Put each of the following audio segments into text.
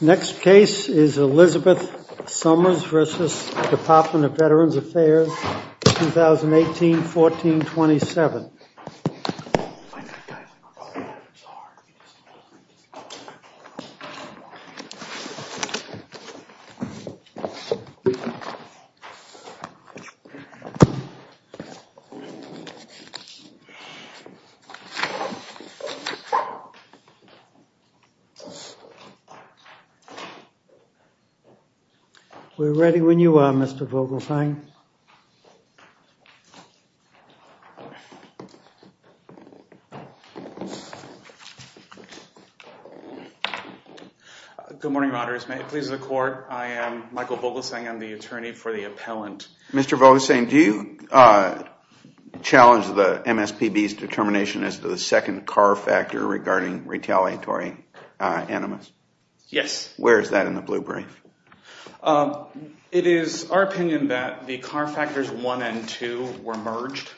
Next case is Elizabeth Somers v. Department of Veterans Affairs, 2018-14-27. We're ready when you are, Mr. Vogelsang. Mr. Vogelsang, do you challenge the MSPB's determination as to the second car factor regarding retaliatory animus? Yes. Where is that in the blue brief? It is our opinion that the car factors 1 and 2 were merged.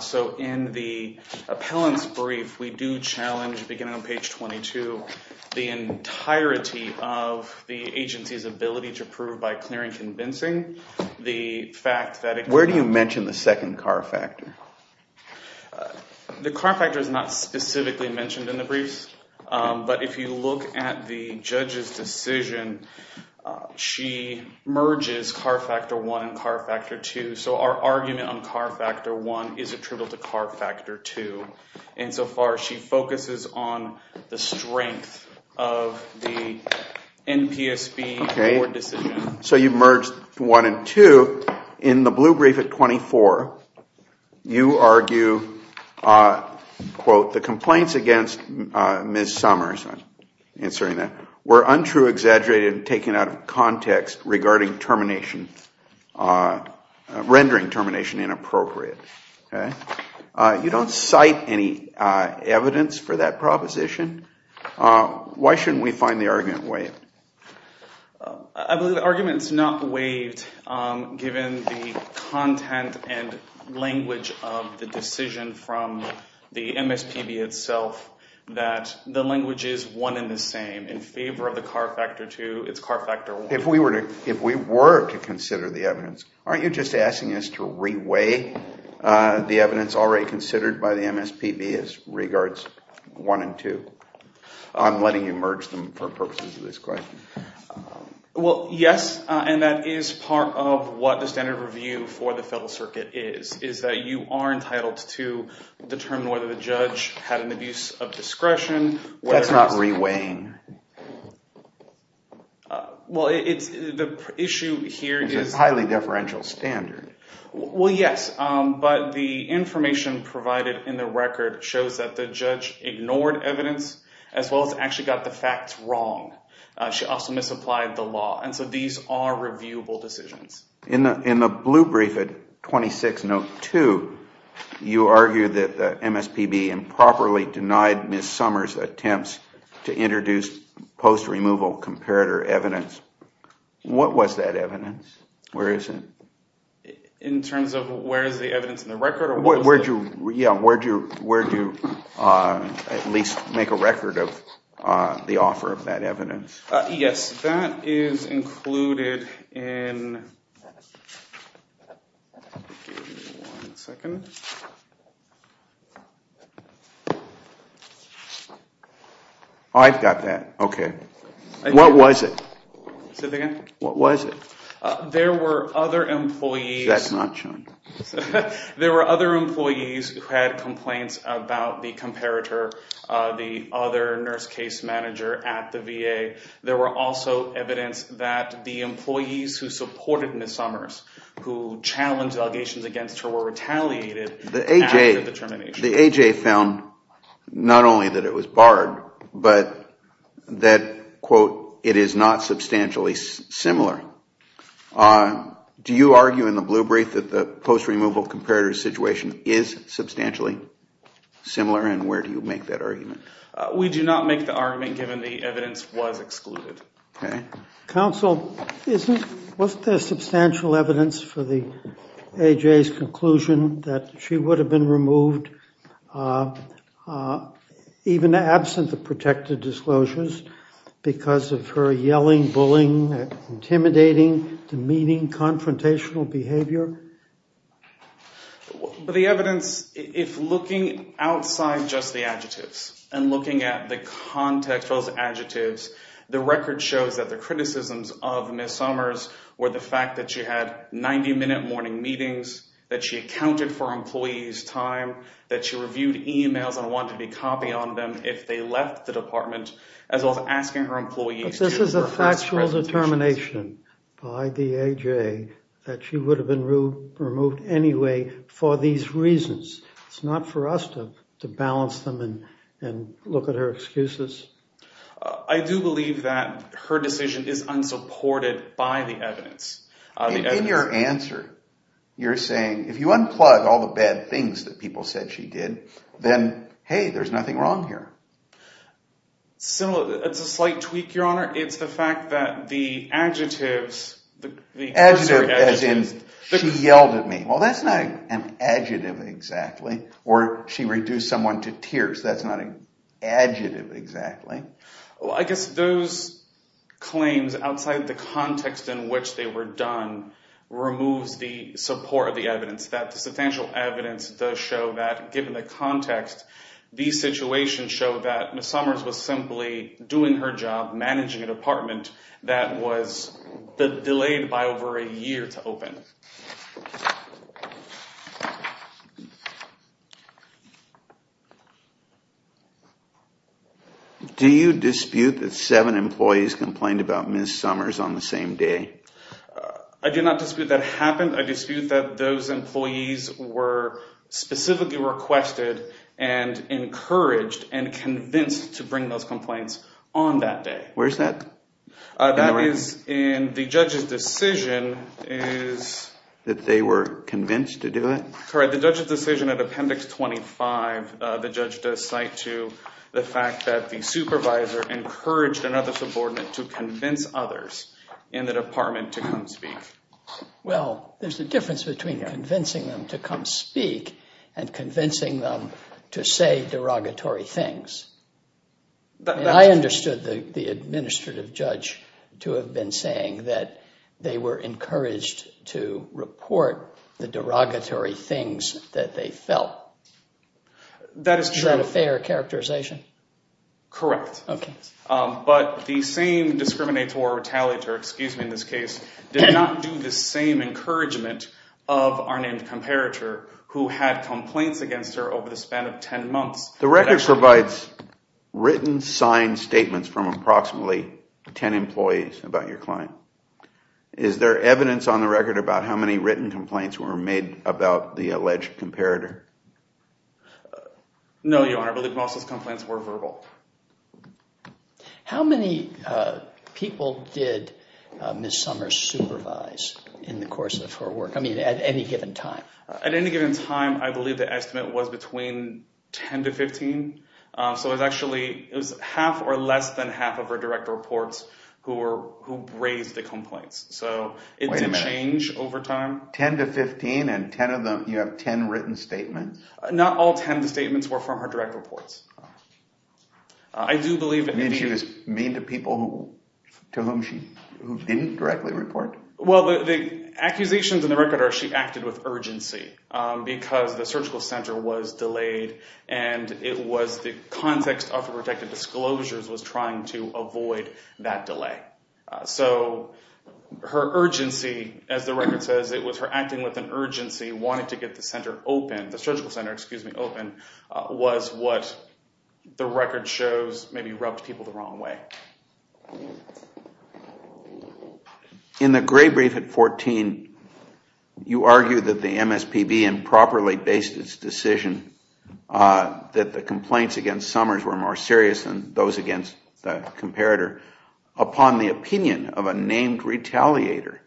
So in the appellant's brief, we do challenge, beginning on page 22, the entirety of the agency's ability to prove by clear and convincing the fact that it- Where do you mention the second car factor? The car factor is not specifically mentioned in the briefs, but if you look at the judge's decision, she merges car factor 1 and car factor 2. So our argument on car factor 1 is attributable to car factor 2. And so far, she focuses on the strength of the NPSB board decision. So you merged 1 and 2. In the blue brief at 24, you argue, quote, the complaints against Ms. Somers, I'm answering that, were untrue, exaggerated, and taken out of context regarding termination, rendering termination inappropriate. You don't cite any evidence for that proposition. Why shouldn't we find the argument waived? I believe the argument is not waived, given the content and language of the decision from the MSPB itself, that the language is one and the same. In favor of the car factor 2, it's car factor 1. If we were to consider the evidence, aren't you just asking us to reweigh the evidence already considered by the MSPB as regards 1 and 2? I'm letting you merge them for purposes of this question. Well, yes, and that is part of what the standard review for the Federal Circuit is, is that you are entitled to determine whether the judge had an abuse of discretion. That's not reweighing. Well, it's the issue here is... It's a highly deferential standard. Well, yes, but the information provided in the record shows that the judge ignored evidence as well as actually got the facts wrong. She also misapplied the law. And so these are reviewable decisions. In the blue brief at 26 note 2, you argue that the MSPB improperly denied Ms. Summers' attempts to introduce post-removal comparator evidence. What was that evidence? Where is it? In terms of where is the evidence in the record? Where do you at least make a record of the offer of that evidence? Yes, that is included in... I've got that. Okay. What was it? Say that again? What was it? There were other employees... That's not shown. There were other employees who had complaints about the comparator, the other nurse case manager at the VA. There were also evidence that the employees who supported Ms. Summers, who challenged allegations against her, were retaliated after the termination. The AJ found not only that it was barred, but that, quote, it is not substantially similar. Do you argue in the blue brief that the post-removal comparator situation is substantially similar? And where do you make that argument? We do not make the argument given the evidence was excluded. Okay. Counsel, wasn't there substantial evidence for the AJ's conclusion that she would have been removed even absent the protective disclosures because of her yelling, bullying, intimidating, demeaning, confrontational behavior? The evidence, if looking outside just the adjectives and looking at the context of those adjectives, the record shows that the criticisms of Ms. Summers were the fact that she had 90-minute morning meetings, that she accounted for employees' time, that she reviewed emails and wanted to be copy on them if they left the department, as well as asking her employees... This is a factual determination by the AJ that she would have been removed anyway for these reasons. It's not for us to balance them and look at her excuses. I do believe that her decision is unsupported by the evidence. In your answer, you're saying, if you unplug all the bad things that people said she did, then, hey, there's nothing wrong here. It's a slight tweak, Your Honor. It's the fact that the adjectives, the cursory adjectives... Adjectives, as in, she yelled at me. Well, that's not an adjective, exactly. Or she reduced someone to tears. That's not an adjective, exactly. Well, I guess those claims, outside the context in which they were done, removes the support of the evidence. That the substantial evidence does show that, given the context, these situations show that Ms. Summers was simply doing her job, managing a department that was delayed by over a year to open. Do you dispute that seven employees complained about Ms. Summers on the same day? I do not dispute that happened. I dispute that those employees were specifically requested and encouraged and convinced to bring those complaints on that day. Where's that? That is in the judge's decision. That they were convinced to do it? Correct. The judge's decision at Appendix 25, the judge does cite to the fact that the supervisor encouraged another subordinate to convince others in the department to come speak. Well, there's a difference between convincing them to come speak and convincing them to say derogatory things. I understood the administrative judge to have been saying that they were encouraged to report the derogatory things that they felt. That is true. Is that a fair characterization? Correct. Okay. But the same discriminator or retaliator, excuse me in this case, did not do the same encouragement of our named comparator who had complaints against her over the span of ten months. The record provides written signed statements from approximately ten employees about your client. Is there evidence on the record about how many written complaints were made about the alleged comparator? No, Your Honor. I believe most of those complaints were verbal. How many people did Ms. Summers supervise in the course of her work? I mean, at any given time? At any given time, I believe the estimate was between ten to fifteen. So it was actually half or less than half of her direct reports who raised the complaints. So it did change over time. From ten to fifteen and ten of them, you have ten written statements? Not all ten of the statements were from her direct reports. I do believe... You mean she was mean to people to whom she didn't directly report? Well, the accusations in the record are she acted with urgency because the surgical center was delayed and it was the context of her protective disclosures was trying to avoid that delay. So her urgency, as the record says, it was her acting with an urgency, wanting to get the center open, the surgical center, excuse me, open, was what the record shows maybe rubbed people the wrong way. In the gray brief at fourteen, you argue that the MSPB improperly based its decision that the complaints against Summers were more serious than those against the comparator. Upon the opinion of a named retaliator,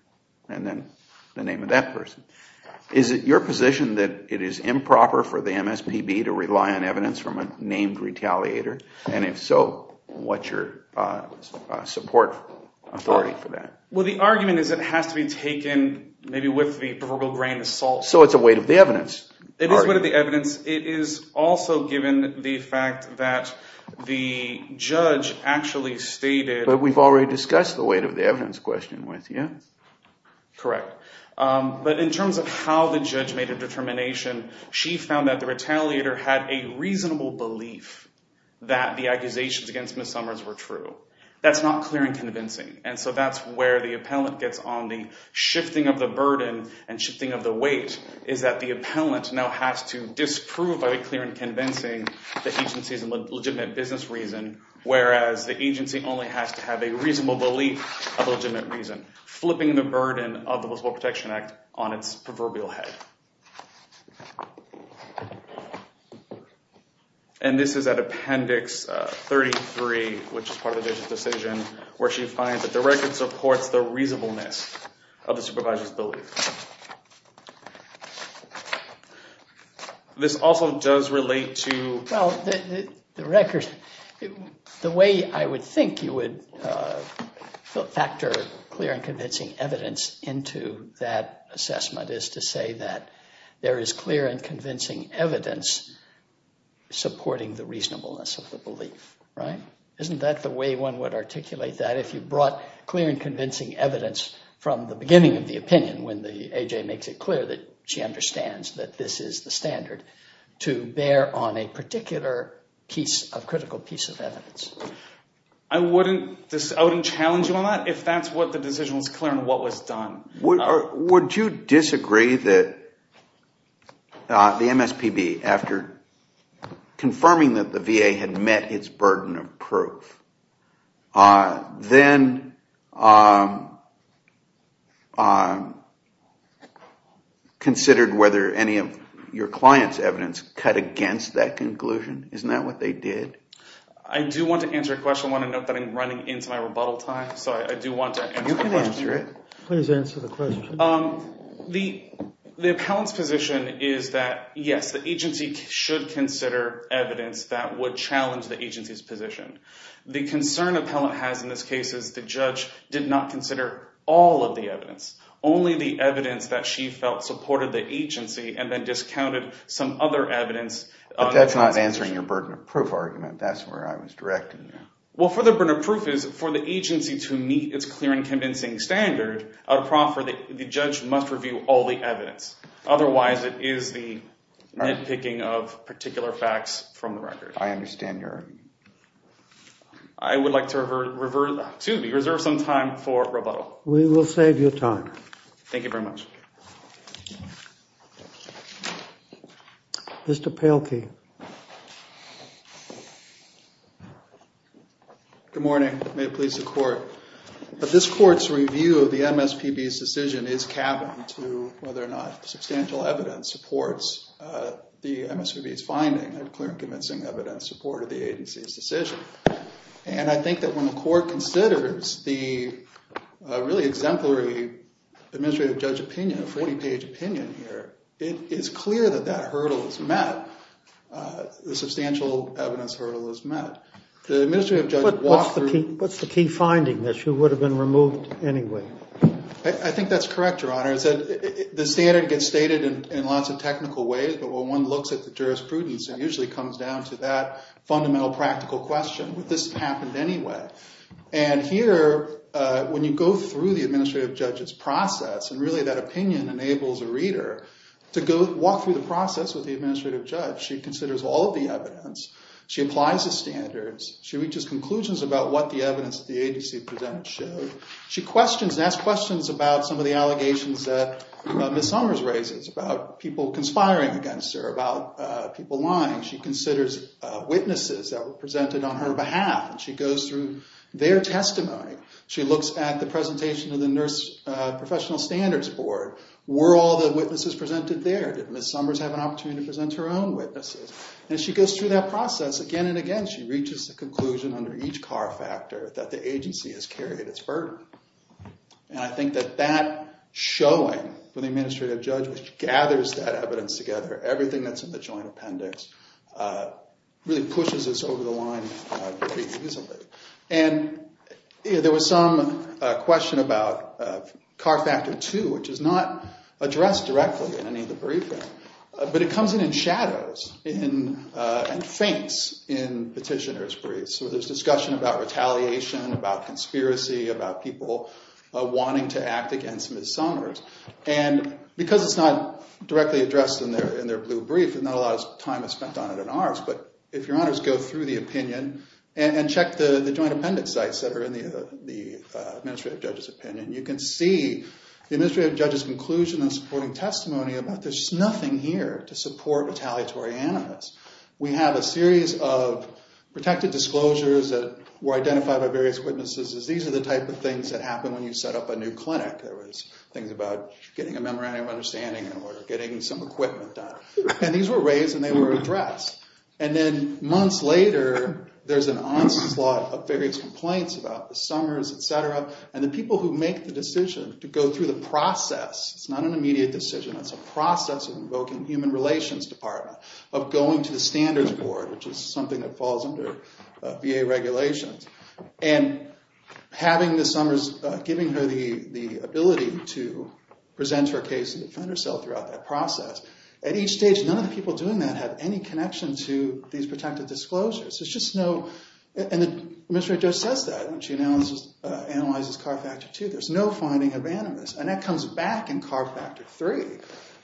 and then the name of that person, is it your position that it is improper for the MSPB to rely on evidence from a named retaliator? And if so, what's your support authority for that? Well, the argument is it has to be taken maybe with the proverbial grain of salt. So it's a weight of the evidence? It is a weight of the evidence. It is also given the fact that the judge actually stated... But we've already discussed the weight of the evidence question with you. Correct. But in terms of how the judge made a determination, she found that the retaliator had a reasonable belief that the accusations against Ms. Summers were true. That's not clear and convincing. And so that's where the appellant gets on the shifting of the burden and shifting of the weight is that the appellant now has to disprove by clear and convincing the agencies in legitimate business reason, whereas the agency only has to have a reasonable belief of legitimate reason, flipping the burden of the Eligible Protection Act on its proverbial head. And this is at Appendix 33, which is part of the decision, where she finds that the This also does relate to... Well, the record... The way I would think you would factor clear and convincing evidence into that assessment is to say that there is clear and convincing evidence supporting the reasonableness of the belief, right? Isn't that the way one would articulate that? If you brought clear and convincing evidence from the beginning of the opinion when the that this is the standard to bear on a particular piece of critical piece of evidence. I wouldn't challenge you on that if that's what the decision was clear and what was done. Would you disagree that the MSPB, after confirming that the VA had met its burden of proof, then considered whether any of your client's evidence cut against that conclusion? Isn't that what they did? I do want to answer a question. I want to note that I'm running into my rebuttal time, so I do want to answer the question. You can answer it. Please answer the question. The appellant's position is that, yes, the agency should consider evidence that would challenge the agency's position. The concern appellant has in this case is the judge did not consider all of the evidence, only the evidence that she felt supported the agency and then discounted some other evidence. But that's not answering your burden of proof argument. That's where I was directing you. Well, for the burden of proof is for the agency to meet its clear and convincing standard, a proffer, the judge must review all the evidence. Otherwise, it is the nitpicking of particular facts from the record. I understand your... I would like to reserve some time for rebuttal. We will save you time. Thank you very much. Mr. Palkey. Good morning. May it please the court. This court's review of the MSPB's decision is cabin to whether or not substantial evidence supports the MSPB's finding of clear and convincing evidence supported the agency's decision. And I think that when the court considers the really exemplary administrative judge opinion, a 40-page opinion here, it is clear that that hurdle is met. The substantial evidence hurdle is met. The administrative judge walked through... What's the key finding that you would have been removed anyway? I think that's correct, Your Honor. The standard gets stated in lots of technical ways, but when one looks at the jurisprudence, it usually comes down to that fundamental practical question. Would this have happened anyway? And here, when you go through the administrative judge's process, and really that opinion enables a reader to walk through the process with the administrative judge. She considers all of the evidence. She applies the standards. She reaches conclusions about what the evidence the agency presented showed. She questions and asks questions about some of the allegations that Ms. Summers raises, about people conspiring against her, about people lying. She considers witnesses that were presented on her behalf, and she goes through their testimony. She looks at the presentation of the Nurse Professional Standards Board. Were all the witnesses presented there? Did Ms. Summers have an opportunity to present her own witnesses? And she goes through that process again and again. She reaches a conclusion under each CAR Factor that the agency has carried its burden. And I think that that showing, when the administrative judge gathers that evidence together, everything that's in the joint appendix, really pushes this over the line pretty easily. And there was some question about CAR Factor 2, which is not addressed directly in any of the briefing, but it comes in in shadows and faints in petitioners' briefs. So there's discussion about retaliation, about conspiracy, about people wanting to act against Ms. Summers. And because it's not directly addressed in their blue brief, not a lot of time is spent on it in ours. But if Your Honors go through the opinion and check the joint appendix sites that are in the administrative judge's opinion, you can see the administrative judge's conclusion in supporting testimony about there's nothing here to support retaliatory animus. We have a series of protected disclosures that were identified by various witnesses. These are the type of things that happen when you set up a new clinic. There was things about getting a memorandum of understanding or getting some equipment done. And these were raised and they were addressed. And then months later, there's an onslaught of various complaints about Ms. Summers, et cetera. And the people who make the decision to go through the process, it's not an immediate decision, it's a process of invoking human relations department, of going to the standards board, which is something that falls under VA regulations, and having Ms. Summers, giving her the ability to present her case and defend herself throughout that process. At each stage, none of the people doing that have any connection to these protected disclosures. And the administrative judge says that when she analyzes CAR Factor 2. There's no finding of animus. And that comes back in CAR Factor 3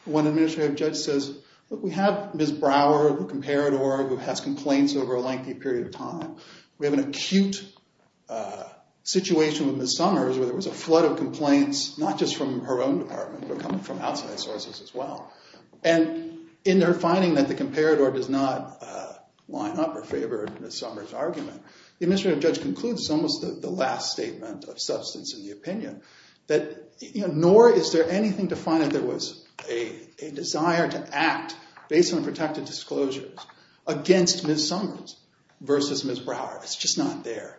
when the administrative judge says, look, we have Ms. Brower, the comparador, who has complaints over a lengthy period of time. We have an acute situation with Ms. Summers where there was a flood of complaints, not just from her own department, but coming from outside sources as well. And in their finding that the comparador does not line up or favor Ms. Summers' argument, the administrative judge concludes, almost the last statement of substance in the opinion, that nor is there anything to find that there was a desire to act based on protected disclosures against Ms. Summers versus Ms. Brower. It's just not there.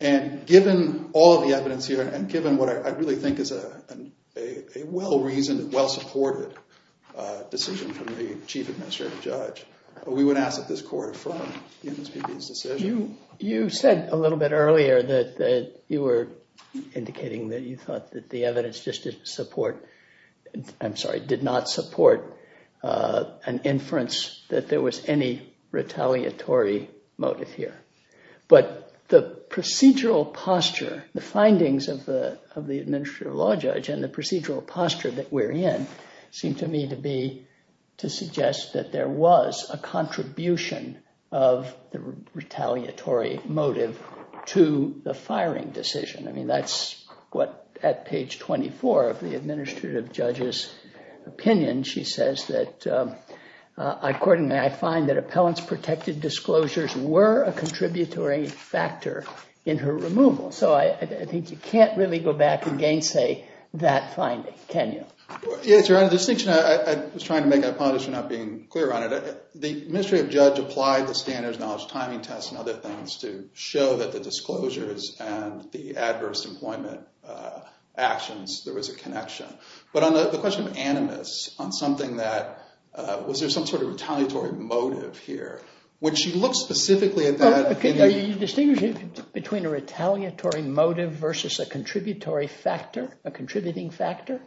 And given all of the evidence here, and given what I really think is a well-reasoned, well-supported decision from the chief administrative judge, we would ask that this court affirm the MSPB's decision. You said a little bit earlier that you were indicating that you thought that the evidence just did not support an inference that there was any retaliatory motive here. But the procedural posture, the findings of the administrative law judge and the procedural posture that we're in seem to me to suggest that there was a contribution of the retaliatory motive to the firing decision. I mean, that's what, at page 24 of the administrative judge's opinion, she says that, accordingly, I find that appellants' protected disclosures were a contributory factor in her removal. So I think you can't really go back and gainsay that finding, can you? Yes, Your Honor. The distinction I was trying to make, I apologize for not being clear on it. The administrative judge applied the standards, knowledge, timing tests, and other things to show that the disclosures and the adverse employment actions, there was a connection. But on the question of animus, on something that, was there some sort of retaliatory motive here? When she looks specifically at that— Are you distinguishing between a retaliatory motive versus a contributory factor, a contributing factor?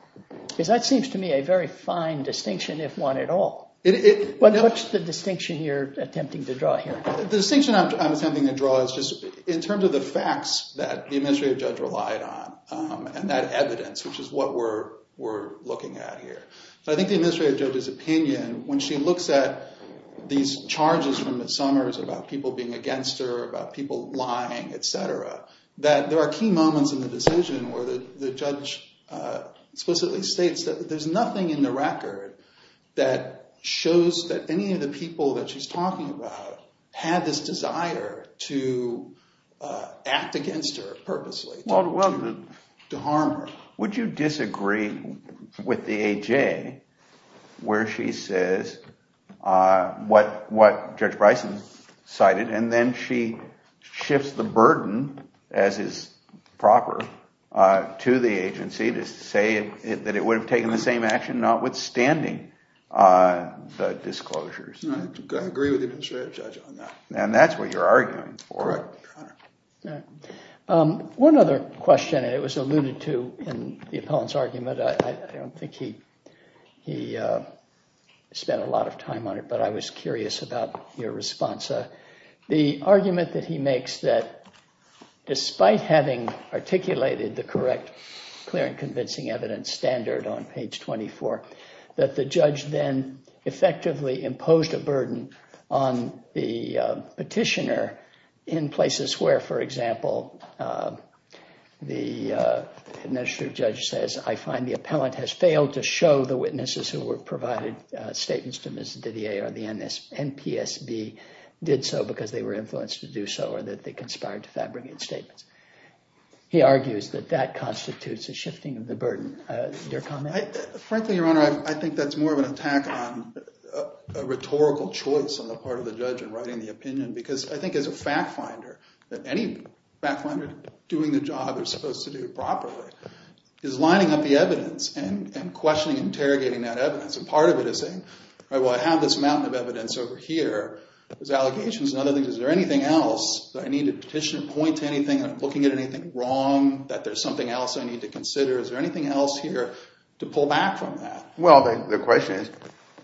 Because that seems to me a very fine distinction, if one at all. What's the distinction you're attempting to draw here? The distinction I'm attempting to draw is just in terms of the facts that the administrative judge relied on and that evidence, which is what we're looking at here. But I think the administrative judge's opinion, when she looks at these charges from the Summers about people being against her, about people lying, et cetera, that there are key moments in the decision where the judge explicitly states that there's nothing in the record that shows that any of the people that she's talking about had this desire to act against her purposely, to harm her. Would you disagree with the A.J. where she says what Judge Bryson cited and then she shifts the burden, as is proper, to the agency to say that it would have taken the same action, notwithstanding the disclosures? I agree with the administrative judge on that. And that's what you're arguing for? Correct, Your Honor. One other question, and it was alluded to in the appellant's argument. I don't think he spent a lot of time on it, but I was curious about your response. The argument that he makes that despite having articulated the correct clear and convincing evidence standard on page 24, that the judge then effectively imposed a burden on the petitioner in places where, for example, the administrative judge says, I find the appellant has failed to show the witnesses who were provided statements to Ms. Didier or the NPSB did so because they were influenced to do so or that they conspired to fabricate statements. He argues that that constitutes a shifting of the burden. Your comment? Frankly, Your Honor, I think that's more of an attack on a rhetorical choice on the part of the judge in writing the opinion because I think as a fact finder that any fact finder doing the job they're supposed to do properly is lining up the evidence and questioning and interrogating that evidence. And part of it is saying, well, I have this mountain of evidence over here. There's allegations and other things. Is there anything else that I need to petition and point to anything? Am I looking at anything wrong that there's something else I need to consider? Is there anything else here to pull back from that? Well, the question is,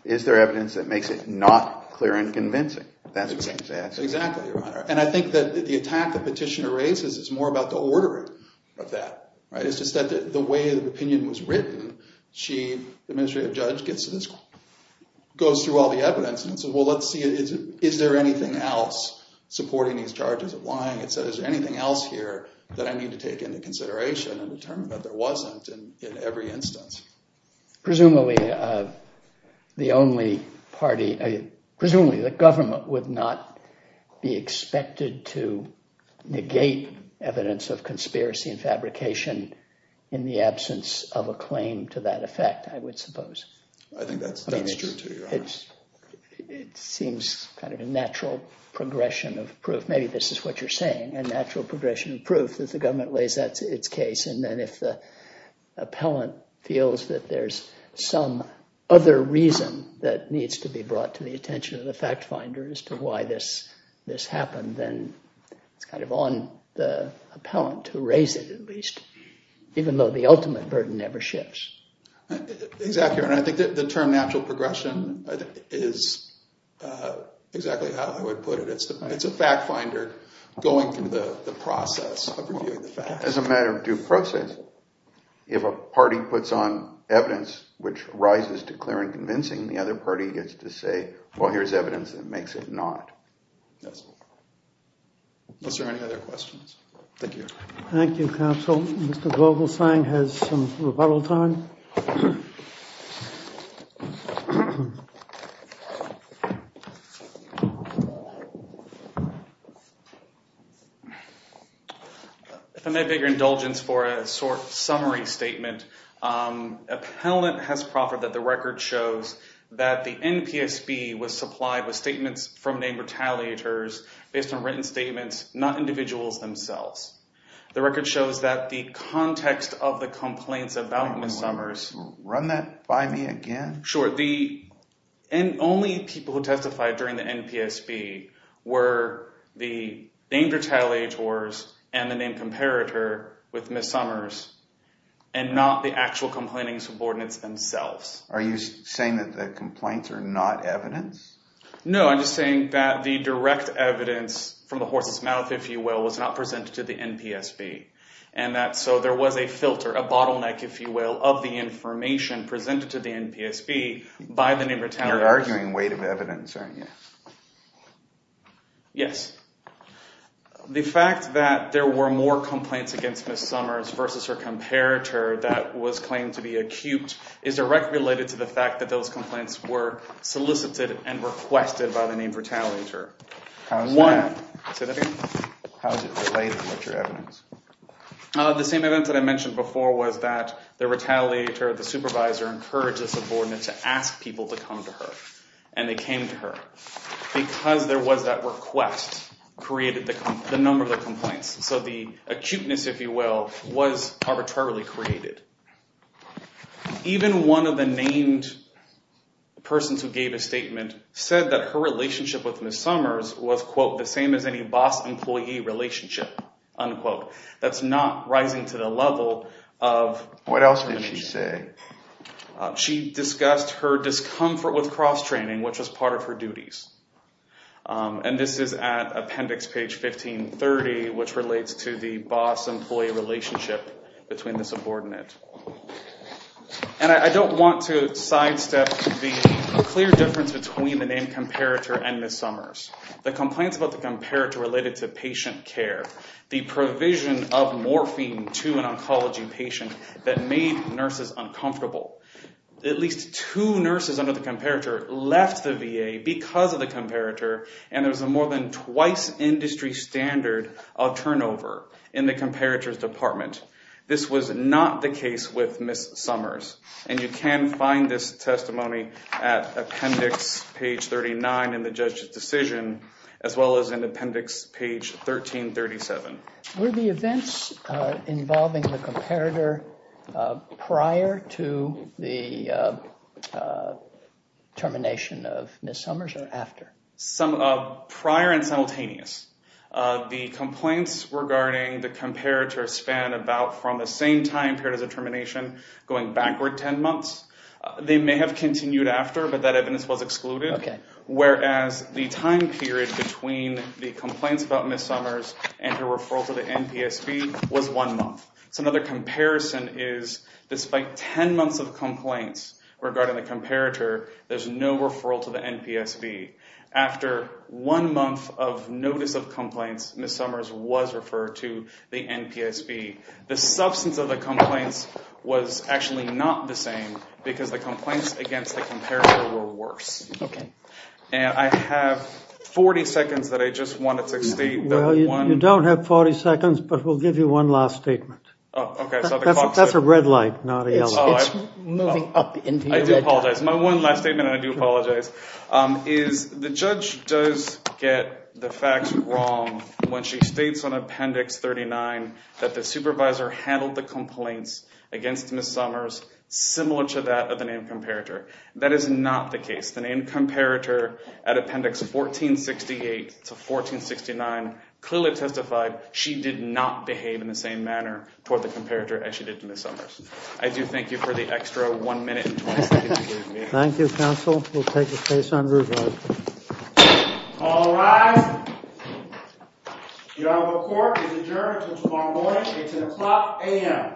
is there evidence that makes it not clear and convincing? That's what he's asking. Exactly, Your Honor. And I think that the attack the petitioner raises is more about the ordering of that. It's just that the way the opinion was written, she, the administrative judge, goes through all the evidence and says, well, let's see, is there anything else supporting these charges of lying? Is there anything else here that I need to take into consideration and determine that there wasn't in every instance? Presumably, the government would not be expected to negate evidence of conspiracy and fabrication in the absence of a claim to that effect, I would suppose. I think that's true, too, Your Honor. It seems kind of a natural progression of proof. Maybe this is what you're saying, a natural progression of proof that the government lays out its case. And then if the appellant feels that there's some other reason that needs to be brought to the attention of the fact finder as to why this happened, then it's kind of on the appellant to raise it at least, even though the ultimate burden never shifts. Exactly, Your Honor. I think the term natural progression is exactly how I would put it. It's a fact finder going through the process of reviewing the facts. As a matter of due process, if a party puts on evidence which rises to clear and convincing, the other party gets to say, well, here's evidence that makes it not. Yes. Unless there are any other questions. Thank you. Thank you, counsel. Mr. Vogelsang has some rebuttal time. If I may, Your Honor. If I may have your indulgence for a sort of summary statement. Appellant has proffered that the record shows that the NPSB was supplied with statements from named retaliators based on written statements, not individuals themselves. The record shows that the context of the complaints about Ms. Summers. Run that by me again. Sure. The only people who testified during the NPSB were the named retaliators and the named comparator with Ms. Summers and not the actual complaining subordinates themselves. Are you saying that the complaints are not evidence? No. I'm just saying that the direct evidence from the horse's mouth, if you will, was not presented to the NPSB. And that so there was a filter, a bottleneck, if you will, of the information presented to the NPSB by the named retaliators. You're arguing weight of evidence, aren't you? Yes. The fact that there were more complaints against Ms. Summers versus her comparator that was claimed to be acute is directly related to the fact that those complaints were solicited and requested by the named retaliator. How is that related with your evidence? The same evidence that I mentioned before was that the retaliator, the supervisor, encouraged the subordinate to ask people to come to her. And they came to her. Because there was that request created the number of the complaints. So the acuteness, if you will, was arbitrarily created. Even one of the named persons who gave a statement said that her relationship with Ms. Summers was, quote, the same as any boss-employee relationship, unquote. That's not rising to the level of... What else did she say? She discussed her discomfort with cross-training, which was part of her duties. And this is at appendix page 1530, which relates to the boss-employee relationship between the subordinate. And I don't want to sidestep the clear difference between the named comparator and Ms. Summers. The complaints about the comparator related to patient care. The provision of morphine to an oncology patient that made nurses uncomfortable. At least two nurses under the comparator left the VA because of the comparator. And there was a more than twice industry standard of turnover in the comparator's department. This was not the case with Ms. Summers. And you can find this testimony at appendix page 39 in the judge's decision, as well as in appendix page 1337. Were the events involving the comparator prior to the termination of Ms. Summers or after? Prior and simultaneous. The complaints regarding the comparator span about from the same time period as the termination, going backward 10 months. They may have continued after, but that evidence was excluded. Whereas the time period between the complaints about Ms. Summers and her referral to the NPSB was one month. So another comparison is, despite 10 months of complaints regarding the comparator, there's no referral to the NPSB. After one month of notice of complaints, Ms. Summers was referred to the NPSB. The substance of the complaints was actually not the same because the complaints against the comparator were worse. Okay. And I have 40 seconds that I just wanted to state. Well, you don't have 40 seconds, but we'll give you one last statement. Oh, okay. That's a red light, not a yellow light. It's moving up. I do apologize. My one last statement, and I do apologize, is the judge does get the facts wrong when she states on appendix 39 that the supervisor handled the complaints against Ms. Summers similar to that of the named comparator. That is not the case. The named comparator at appendix 1468 to 1469 clearly testified she did not behave in the same manner toward the comparator as she did to Ms. Summers. I do thank you for the extra one minute and 20 seconds you gave me. Thank you, counsel. We'll take a case on review. All rise. The honorable court is adjourned until tomorrow morning. It's 10 o'clock a.m.